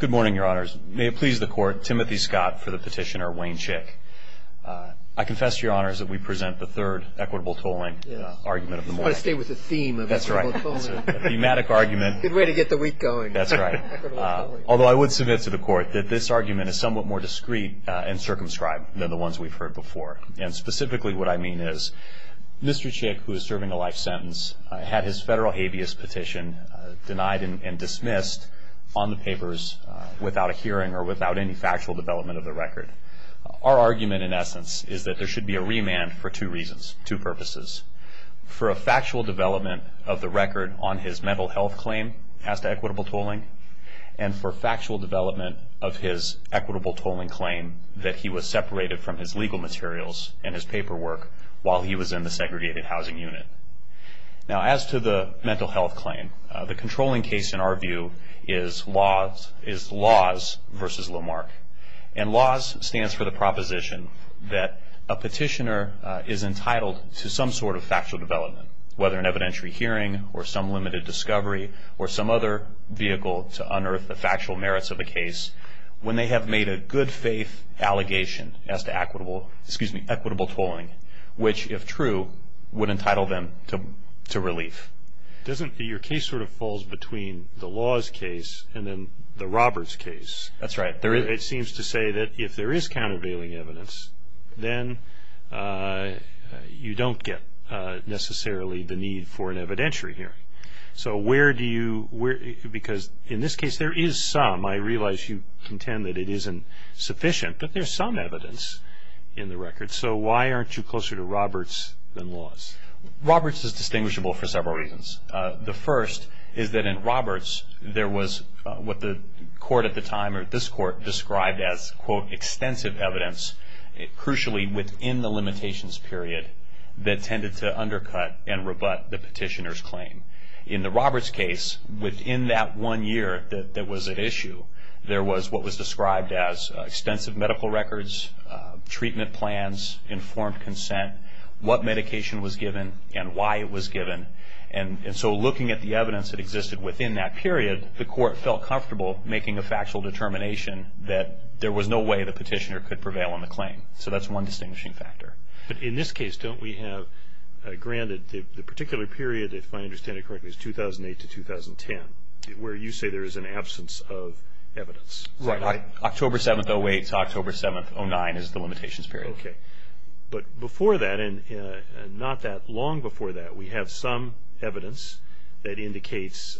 Good morning, your honors. May it please the court, Timothy Scott for the petitioner Wayne Chick. I confess to your honors that we present the third equitable tolling argument of the morning. I want to stay with the theme of equitable tolling. That's right. The thematic argument. Good way to get the week going. That's right. Equitable tolling. Although I would submit to the court that this argument is somewhat more discreet and circumscribed than the ones we've heard before. And specifically what I mean is Mr. Chick, who is serving a life sentence, had his federal habeas petition denied and dismissed on the papers without a hearing or without any factual development of the record. Our argument, in essence, is that there should be a remand for two reasons, two purposes. For a factual development of the record on his mental health claim as to equitable tolling and for factual development of his equitable tolling claim that he was separated from his legal materials and his paperwork while he was in the segregated housing unit. Now, as to the mental health claim, the controlling case, in our view, is LAWS versus LOMARK. And LAWS stands for the proposition that a petitioner is entitled to some sort of factual development, whether an evidentiary hearing or some limited discovery or some other vehicle to unearth the factual merits of a case, when they have made a good faith allegation as to equitable tolling, which, if true, would entitle them to relief. Doesn't your case sort of fall between the LAWS case and then the Roberts case? That's right. It seems to say that if there is countervailing evidence, then you don't get necessarily the need for an evidentiary hearing. So where do you – because in this case, there is some. I realize you contend that it isn't sufficient, but there's some evidence in the record. So why aren't you closer to Roberts than LAWS? Roberts is distinguishable for several reasons. The first is that in Roberts, there was what the court at the time, or this court, described as, quote, extensive evidence, crucially within the limitations period, that tended to undercut and rebut the petitioner's claim. In the Roberts case, within that one year that was at issue, there was what was described as extensive medical records, treatment plans, informed consent, what medication was given and why it was given. And so looking at the evidence that existed within that period, the court felt comfortable making a factual determination that there was no way the petitioner could prevail on the claim. So that's one distinguishing factor. But in this case, don't we have granted the particular period, if I understand it correctly, is 2008 to 2010, where you say there is an absence of evidence? Right. October 7th, 2008 to October 7th, 2009 is the limitations period. Okay. But before that, and not that long before that, we have some evidence that indicates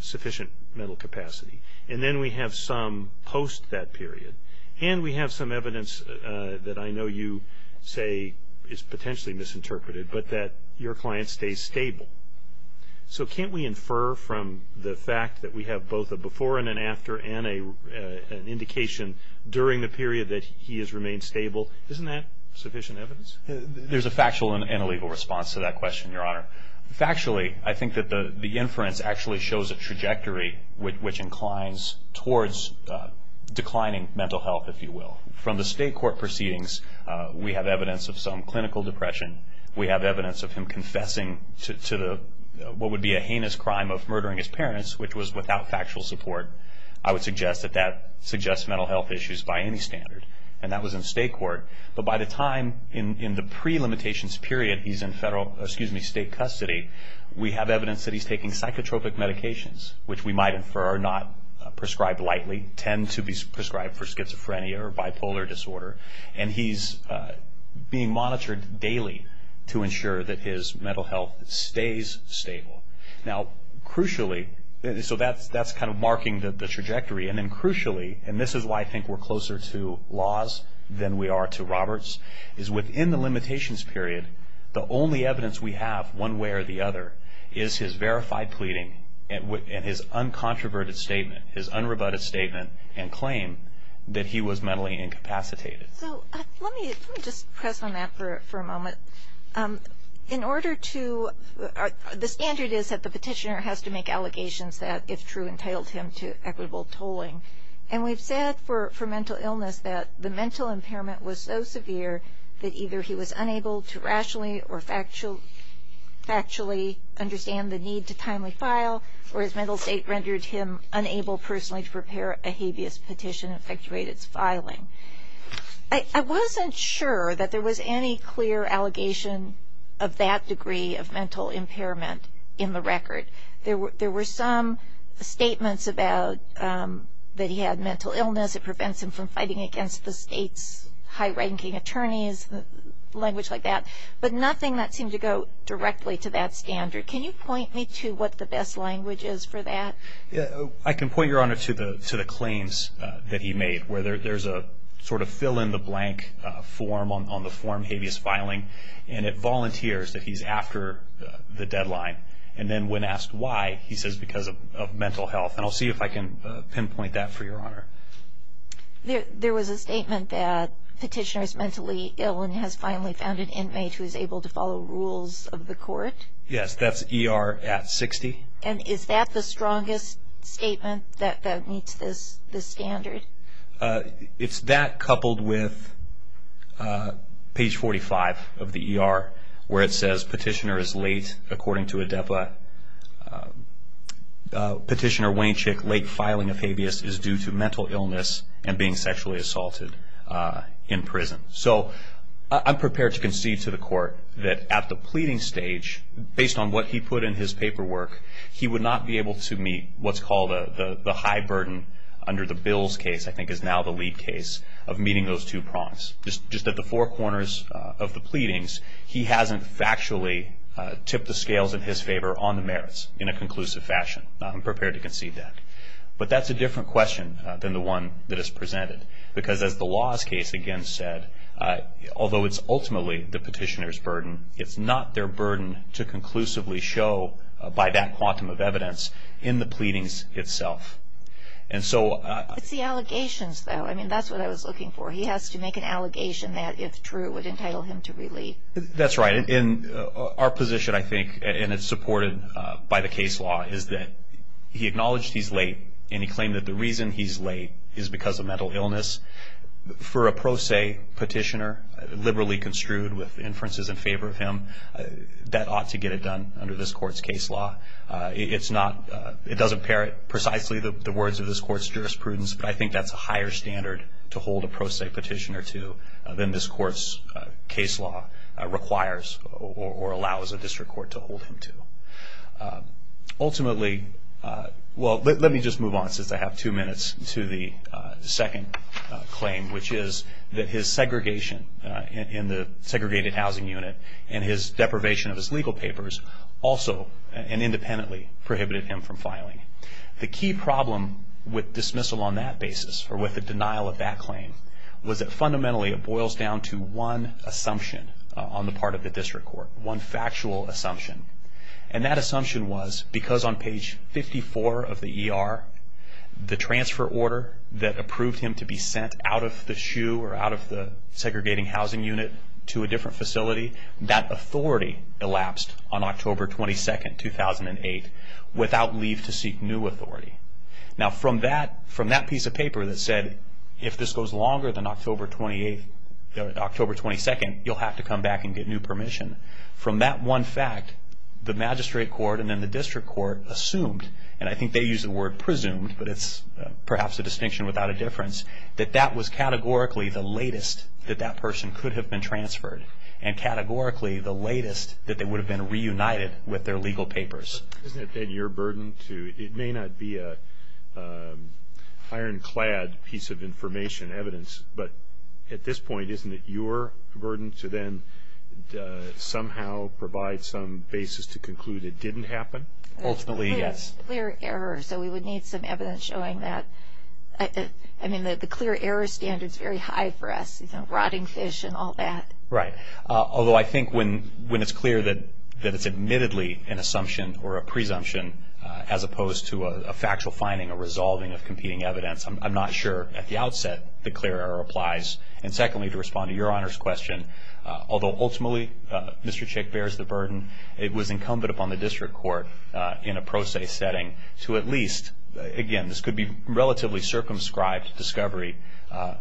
sufficient mental capacity. And then we have some post that period. And we have some evidence that I know you say is potentially misinterpreted, but that your client stays stable. So can't we infer from the fact that we have both a before and an after and an indication during the period that he has remained stable, isn't that sufficient evidence? There's a factual and a legal response to that question, Your Honor. Factually, I think that the inference actually shows a trajectory which inclines towards declining mental health, if you will. From the state court proceedings, we have evidence of some clinical depression. We have evidence of him confessing to what would be a heinous crime of murdering his parents, which was without factual support. I would suggest that that suggests mental health issues by any standard. And that was in state court. But by the time in the pre-limitations period he's in federal, excuse me, state custody, we have evidence that he's taking psychotropic medications, which we might infer are not prescribed lightly, tend to be prescribed for schizophrenia or bipolar disorder. And he's being monitored daily to ensure that his mental health stays stable. Now, crucially, so that's kind of marking the trajectory. And then crucially, and this is why I think we're closer to laws than we are to Roberts, is within the limitations period, the only evidence we have one way or the other is his verified pleading and his uncontroverted statement, his unrebutted statement and claim that he was mentally incapacitated. So let me just press on that for a moment. In order to – the standard is that the petitioner has to make allegations that, if true, entitled him to equitable tolling. And we've said for mental illness that the mental impairment was so severe that either he was unable to rationally or factually understand the need to timely file or his mental state rendered him unable personally to prepare a habeas petition and effectuate its filing. I wasn't sure that there was any clear allegation of that degree of mental impairment in the record. There were some statements about that he had mental illness. It prevents him from fighting against the state's high-ranking attorneys, language like that. But nothing that seemed to go directly to that standard. Can you point me to what the best language is for that? I can point, Your Honor, to the claims that he made, where there's a sort of fill-in-the-blank form on the form habeas filing, and it volunteers that he's after the deadline. And then when asked why, he says because of mental health. And I'll see if I can pinpoint that for you, Your Honor. There was a statement that petitioner is mentally ill and has finally found an inmate who is able to follow rules of the court. Yes, that's ER at 60. And is that the strongest statement that meets this standard? It's that coupled with page 45 of the ER, where it says petitioner is late, according to ADEPA. Petitioner Wayne Chick, late filing of habeas is due to mental illness and being sexually assaulted in prison. So I'm prepared to concede to the court that at the pleading stage, based on what he put in his paperwork, he would not be able to meet what's called the high burden under the bills case, I think is now the lead case, of meeting those two prongs. Just at the four corners of the pleadings, he hasn't factually tipped the scales in his favor on the merits in a conclusive fashion. I'm prepared to concede that. But that's a different question than the one that is presented, because as the law's case again said, although it's ultimately the petitioner's burden, it's not their burden to conclusively show, by that quantum of evidence, in the pleadings itself. It's the allegations, though. I mean, that's what I was looking for. He has to make an allegation that, if true, would entitle him to relieve. That's right. And our position, I think, and it's supported by the case law, is that he acknowledged he's late, and he claimed that the reason he's late is because of mental illness. For a pro se petitioner, liberally construed with inferences in favor of him, that ought to get it done under this court's case law. It doesn't parrot precisely the words of this court's jurisprudence, but I think that's a higher standard to hold a pro se petitioner to than this court's case law requires or allows a district court to hold him to. Ultimately, well, let me just move on, since I have two minutes, to the second claim, which is that his segregation in the segregated housing unit and his deprivation of his legal papers also and independently prohibited him from filing. The key problem with dismissal on that basis, or with the denial of that claim, was that fundamentally it boils down to one assumption on the part of the district court, one factual assumption. And that assumption was, because on page 54 of the ER, the transfer order that approved him to be sent out of the SHU or out of the segregating housing unit to a different facility, that authority elapsed on October 22, 2008, without leave to seek new authority. Now, from that piece of paper that said, if this goes longer than October 22, you'll have to come back and get new permission, from that one fact, the magistrate court and then the district court assumed, and I think they used the word presumed, but it's perhaps a distinction without a difference, that that was categorically the latest that that person could have been transferred and categorically the latest that they would have been reunited with their legal papers. Isn't it then your burden to, it may not be an ironclad piece of information, evidence, but at this point, isn't it your burden to then somehow provide some basis to conclude it didn't happen? Ultimately, yes. Clear error, so we would need some evidence showing that. I mean, the clear error standard is very high for us, you know, rotting fish and all that. Right. Although I think when it's clear that it's admittedly an assumption or a presumption, as opposed to a factual finding, a resolving of competing evidence, I'm not sure at the outset the clear error applies. And secondly, to respond to your Honor's question, although ultimately Mr. Chick bears the burden, it was incumbent upon the district court in a pro se setting to at least, again, this could be relatively circumscribed discovery,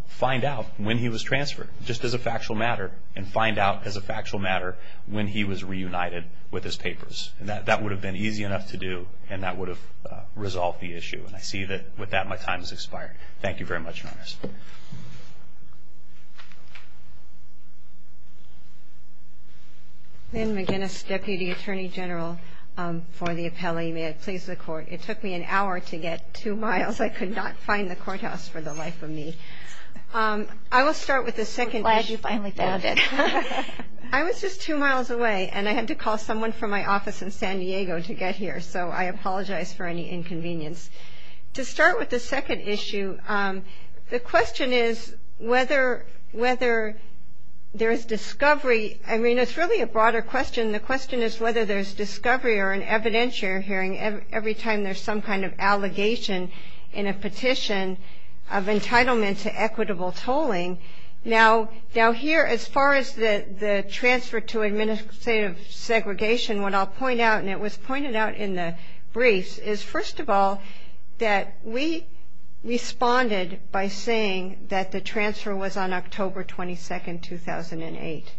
find out when he was transferred. Just as a factual matter, and find out as a factual matter when he was reunited with his papers. And that would have been easy enough to do, and that would have resolved the issue. And I see that with that my time has expired. Thank you very much, Your Honor. Lynn McGinnis, Deputy Attorney General for the appellee. May it please the Court. It took me an hour to get two miles. I could not find the courthouse for the life of me. I will start with the second issue. I'm glad you finally found it. I was just two miles away, and I had to call someone from my office in San Diego to get here. So I apologize for any inconvenience. To start with the second issue, the question is whether there is discovery. I mean, it's really a broader question. The question is whether there's discovery or an evidentiary hearing every time there's some kind of allegation in a petition of entitlement to equitable tolling. Now, here, as far as the transfer to administrative segregation, what I'll point out, and it was pointed out in the briefs, is, first of all, that we responded by saying that the transfer was on October 22, 2008.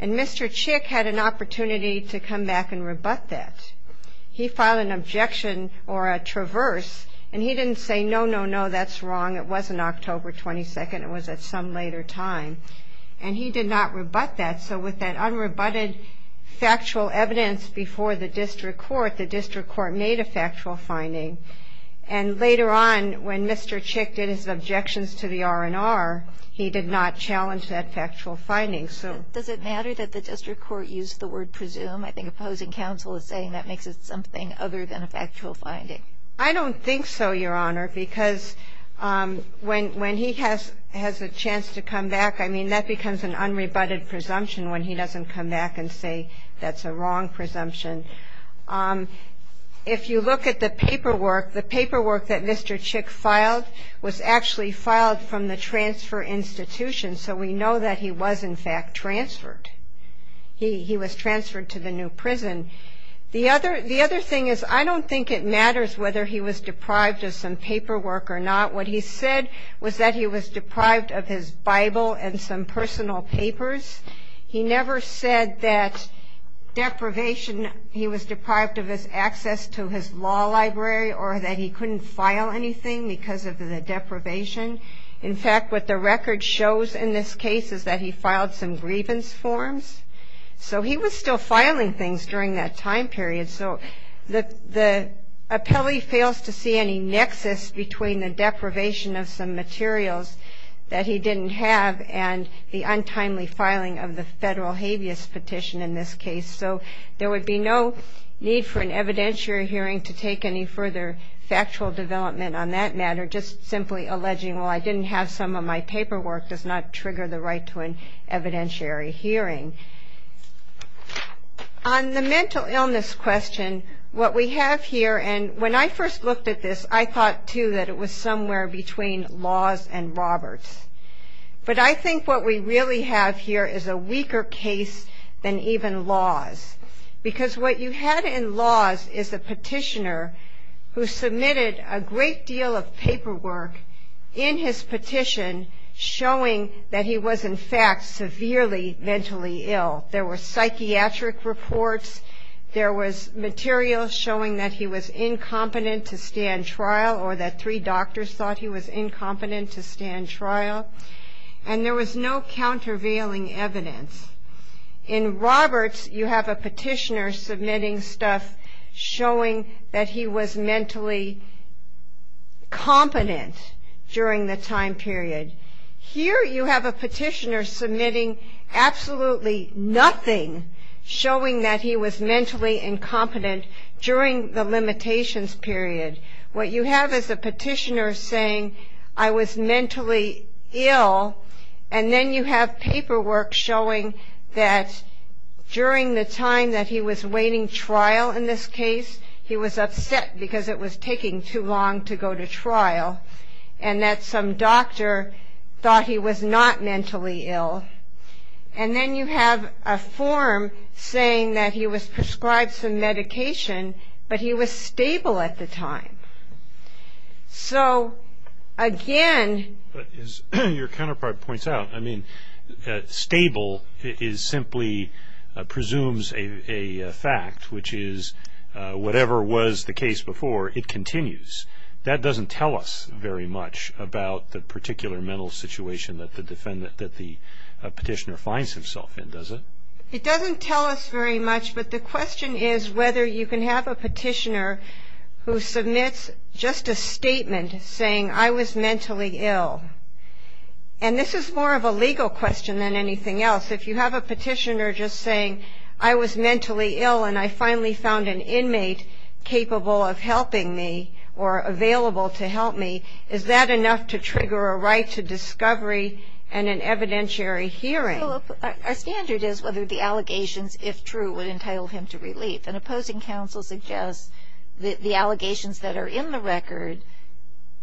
And Mr. Chick had an opportunity to come back and rebut that. He filed an objection or a traverse, and he didn't say, no, no, no, that's wrong. It wasn't October 22nd. It was at some later time. And he did not rebut that. So with that unrebutted factual evidence before the district court, the district court made a factual finding. And later on, when Mr. Chick did his objections to the R&R, he did not challenge that factual finding. So does it matter that the district court used the word presume? I think opposing counsel is saying that makes it something other than a factual finding. I don't think so, Your Honor, because when he has a chance to come back, I mean, that becomes an unrebutted presumption when he doesn't come back and say that's a wrong presumption. If you look at the paperwork, the paperwork that Mr. Chick filed was actually filed from the transfer institution. So we know that he was, in fact, transferred. He was transferred to the new prison. The other thing is I don't think it matters whether he was deprived of some paperwork or not. What he said was that he was deprived of his Bible and some personal papers. He never said that deprivation, he was deprived of his access to his law library or that he couldn't file anything because of the deprivation. In fact, what the record shows in this case is that he filed some grievance forms. So he was still filing things during that time period. So the appellee fails to see any nexus between the deprivation of some materials that he didn't have and the untimely filing of the federal habeas petition in this case. So there would be no need for an evidentiary hearing to take any further factual development on that matter, just simply alleging, well, I didn't have some of my paperwork does not trigger the right to an evidentiary hearing. On the mental illness question, what we have here, and when I first looked at this, I thought, too, that it was somewhere between laws and Roberts. But I think what we really have here is a weaker case than even laws because what you had in laws is a petitioner who submitted a great deal of paperwork in his petition showing that he was, in fact, severely mentally ill. There were psychiatric reports. There was material showing that he was incompetent to stand trial or that three doctors thought he was incompetent to stand trial. And there was no countervailing evidence. In Roberts, you have a petitioner submitting stuff showing that he was mentally competent during the time period. Here you have a petitioner submitting absolutely nothing showing that he was mentally incompetent during the limitations period. What you have is a petitioner saying, I was mentally ill, and then you have paperwork showing that during the time that he was awaiting trial in this case, he was upset because it was taking too long to go to trial, and that some doctor thought he was not mentally ill. And then you have a form saying that he was prescribed some medication, but he was stable at the time. So, again... But as your counterpart points out, I mean, stable simply presumes a fact, which is whatever was the case before, it continues. That doesn't tell us very much about the particular mental situation that the petitioner finds himself in, does it? It doesn't tell us very much, but the question is whether you can have a petitioner who submits just a statement saying, I was mentally ill. And this is more of a legal question than anything else. If you have a petitioner just saying, I was mentally ill, and I finally found an inmate capable of helping me or available to help me, is that enough to trigger a right to discovery and an evidentiary hearing? Well, our standard is whether the allegations, if true, would entitle him to relief. And opposing counsel suggests that the allegations that are in the record,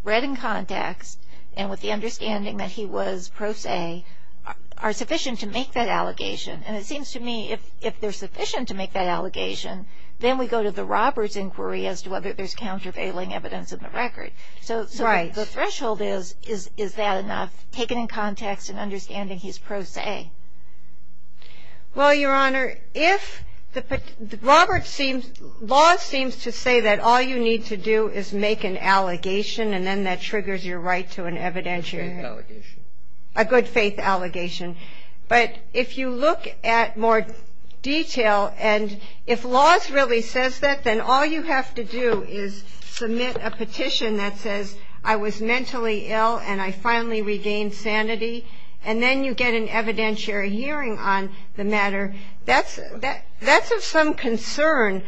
read in context, and with the understanding that he was pro se, are sufficient to make that allegation. And it seems to me if they're sufficient to make that allegation, then we go to the robber's inquiry as to whether there's countervailing evidence in the record. Right. So the threshold is, is that enough, taken in context and understanding he's pro se? Well, Your Honor, if Robert seems, Laws seems to say that all you need to do is make an allegation, and then that triggers your right to an evidentiary hearing. A good faith allegation. A good faith allegation. But if you look at more detail, and if Laws really says that, then all you have to do is submit a petition that says, I was mentally ill and I finally regained sanity. And then you get an evidentiary hearing on the matter. That's of some concern.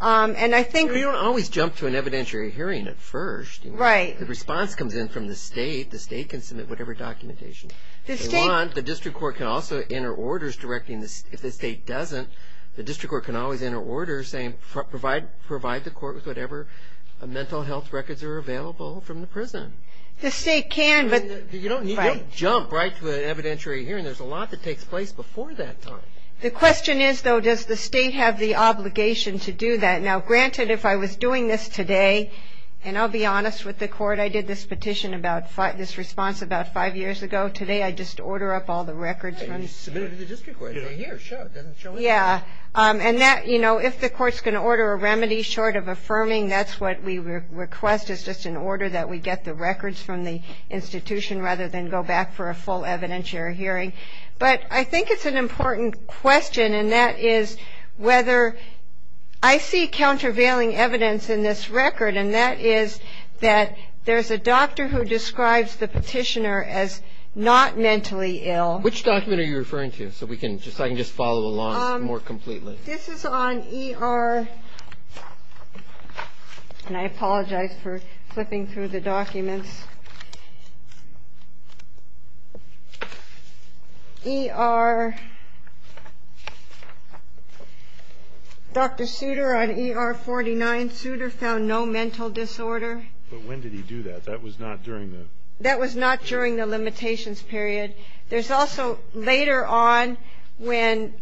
And I think we don't always jump to an evidentiary hearing at first. Right. The response comes in from the state. The state can submit whatever documentation they want. The district court can also enter orders directing, if the state doesn't, the district court can always enter orders saying, provide the court with whatever mental health records are available from the prison. The state can, but. You don't jump right to an evidentiary hearing. There's a lot that takes place before that time. The question is, though, does the state have the obligation to do that? Now, granted, if I was doing this today, and I'll be honest with the court, I did this petition about, this response about five years ago. Today I just order up all the records. You submitted to the district court. And they say, here, show it. Doesn't show anything. Yeah. And that, you know, if the court's going to order a remedy short of affirming, that's what we request, is just an order that we get the records from the institution rather than go back for a full evidentiary hearing. But I think it's an important question, and that is whether ‑‑ I see countervailing evidence in this record, and that is that there's a doctor who describes the petitioner as not mentally ill. Which document are you referring to? So I can just follow along more completely. This is on ER, and I apologize for flipping through the documents. Dr. Souter on ER 49. Souter found no mental disorder. But when did he do that? That was not during the ‑‑ That was not during the limitations period. There's also later on when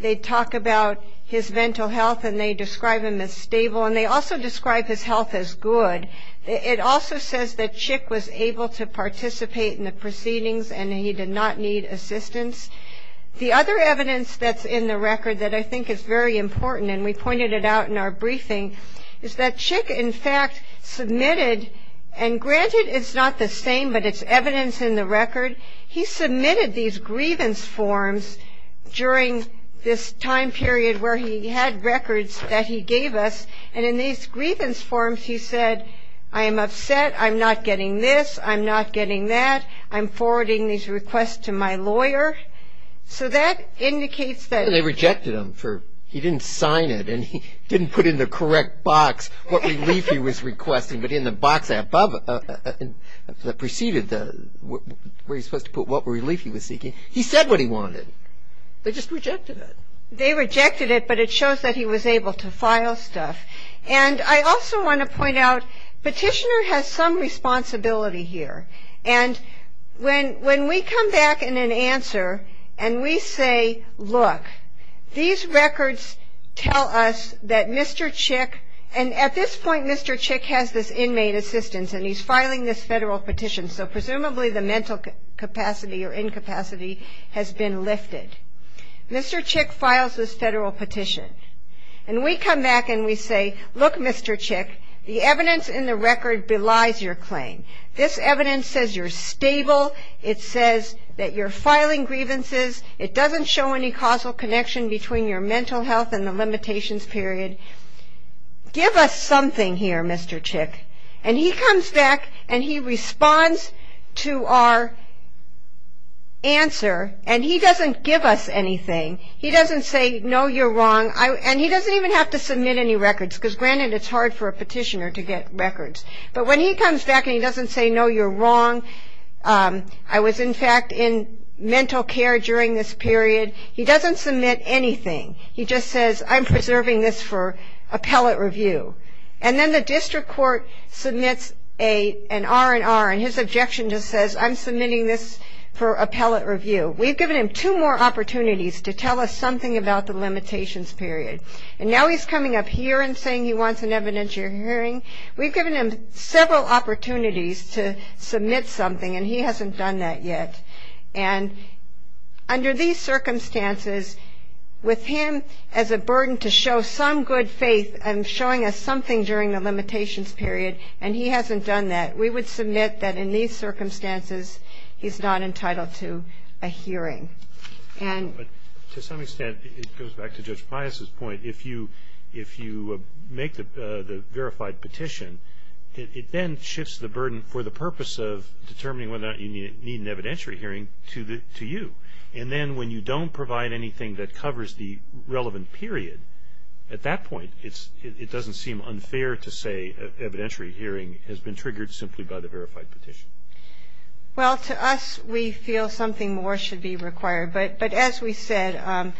they talk about his mental health and they describe him as stable, and they also describe his health as good. It also says that Chick was able to participate in the proceedings and he did not need assistance. The other evidence that's in the record that I think is very important, and we pointed it out in our briefing, is that Chick, in fact, submitted, and granted it's not the same, but it's evidence in the record. He submitted these grievance forms during this time period where he had records that he gave us, and in these grievance forms he said, I am upset, I'm not getting this, I'm not getting that, I'm forwarding these requests to my lawyer. So that indicates that ‑‑ They rejected them. He didn't sign it, and he didn't put in the correct box what relief he was requesting, but in the box that preceded where he was supposed to put what relief he was seeking, he said what he wanted. They just rejected it. They rejected it, but it shows that he was able to file stuff. And I also want to point out, Petitioner has some responsibility here, and when we come back in an answer and we say, look, these records tell us that Mr. Chick, and at this point Mr. Chick has this inmate assistance, and he's filing this federal petition, so presumably the mental capacity or incapacity has been lifted. Mr. Chick files this federal petition, and we come back and we say, look, Mr. Chick, the evidence in the record belies your claim. This evidence says you're stable, it says that you're filing grievances, it doesn't show any causal connection between your mental health and the limitations period. Give us something here, Mr. Chick. And he comes back and he responds to our answer, and he doesn't give us anything. He doesn't say, no, you're wrong, and he doesn't even have to submit any records, because granted it's hard for a petitioner to get records. But when he comes back and he doesn't say, no, you're wrong, I was in fact in mental care during this period, he doesn't submit anything. He just says, I'm preserving this for appellate review. And then the district court submits an R&R, and his objection just says, I'm submitting this for appellate review. We've given him two more opportunities to tell us something about the limitations period. And now he's coming up here and saying he wants an evidentiary hearing. We've given him several opportunities to submit something, and he hasn't done that yet. And under these circumstances, with him as a burden to show some good faith and showing us something during the limitations period, and he hasn't done that, we would submit that in these circumstances he's not entitled to a hearing. And to some extent, it goes back to Judge Pius's point. If you make the verified petition, it then shifts the burden for the purpose of determining whether or not you need an evidentiary hearing to you. And then when you don't provide anything that covers the relevant period, at that point, it doesn't seem unfair to say evidentiary hearing has been triggered simply by the verified petition. Well, to us, we feel something more should be required. But as we said,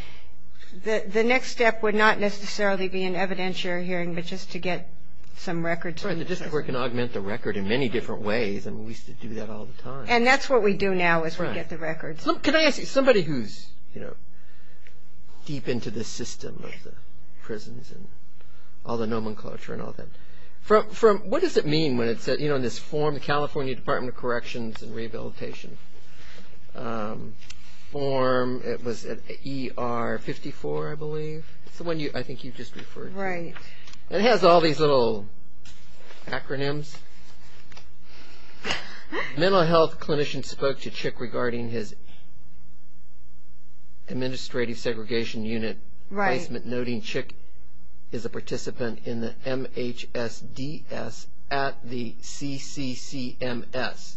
the next step would not necessarily be an evidentiary hearing, but just to get some records. Right, the district court can augment the record in many different ways, and we used to do that all the time. And that's what we do now is we get the records. Can I ask you, somebody who's deep into the system of the prisons and all the nomenclature and all that, what does it mean when it says, you know, in this form, the California Department of Corrections and Rehabilitation form, it was ER 54, I believe. It's the one I think you just referred to. Right. It has all these little acronyms. Mental health clinician spoke to Chick regarding his administrative segregation unit placement, noting Chick is a participant in the MHSDS at the CCCMS.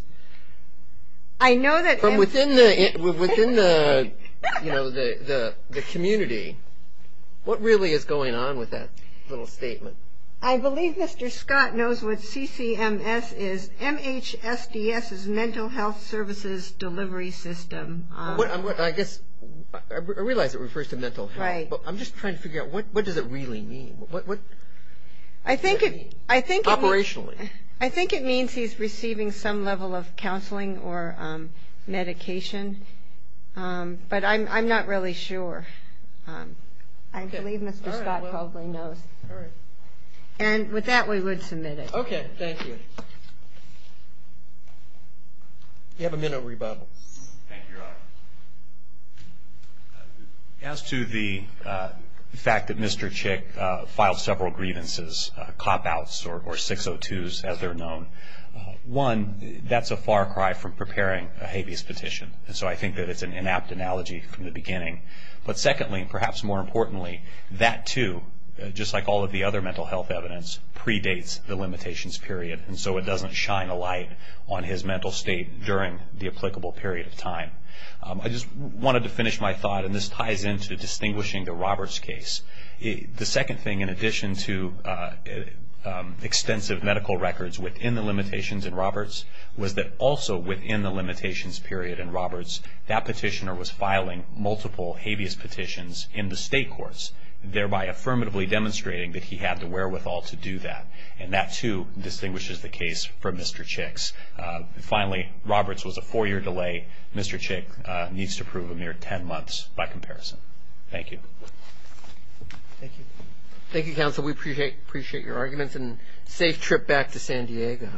From within the, you know, the community, what really is going on with that little statement? I believe Mr. Scott knows what CCMS is. MHSDS is Mental Health Services Delivery System. I guess I realize it refers to mental health. Right. I'm just trying to figure out what does it really mean? I think it means he's receiving some level of counseling or medication, but I'm not really sure. I believe Mr. Scott probably knows. All right. And with that, we would submit it. Okay. Thank you. You have a minute rebuttal. Thank you, Your Honor. As to the fact that Mr. Chick filed several grievances, cop-outs or 602s, as they're known, one, that's a far cry from preparing a habeas petition, and so I think that it's an inapt analogy from the beginning. But secondly, and perhaps more importantly, that, too, just like all of the other mental health evidence, predates the limitations period, and so it doesn't shine a light on his mental state during the applicable period of time. I just wanted to finish my thought, and this ties into distinguishing the Roberts case. The second thing, in addition to extensive medical records within the limitations in Roberts, was that also within the limitations period in Roberts, that petitioner was filing multiple habeas petitions in the state courts, thereby affirmatively demonstrating that he had the wherewithal to do that. And that, too, distinguishes the case from Mr. Chick's. Finally, Roberts was a four-year delay. Mr. Chick needs to prove a mere 10 months by comparison. Thank you. Thank you. Thank you, counsel. We appreciate your arguments, and safe trip back to San Diego.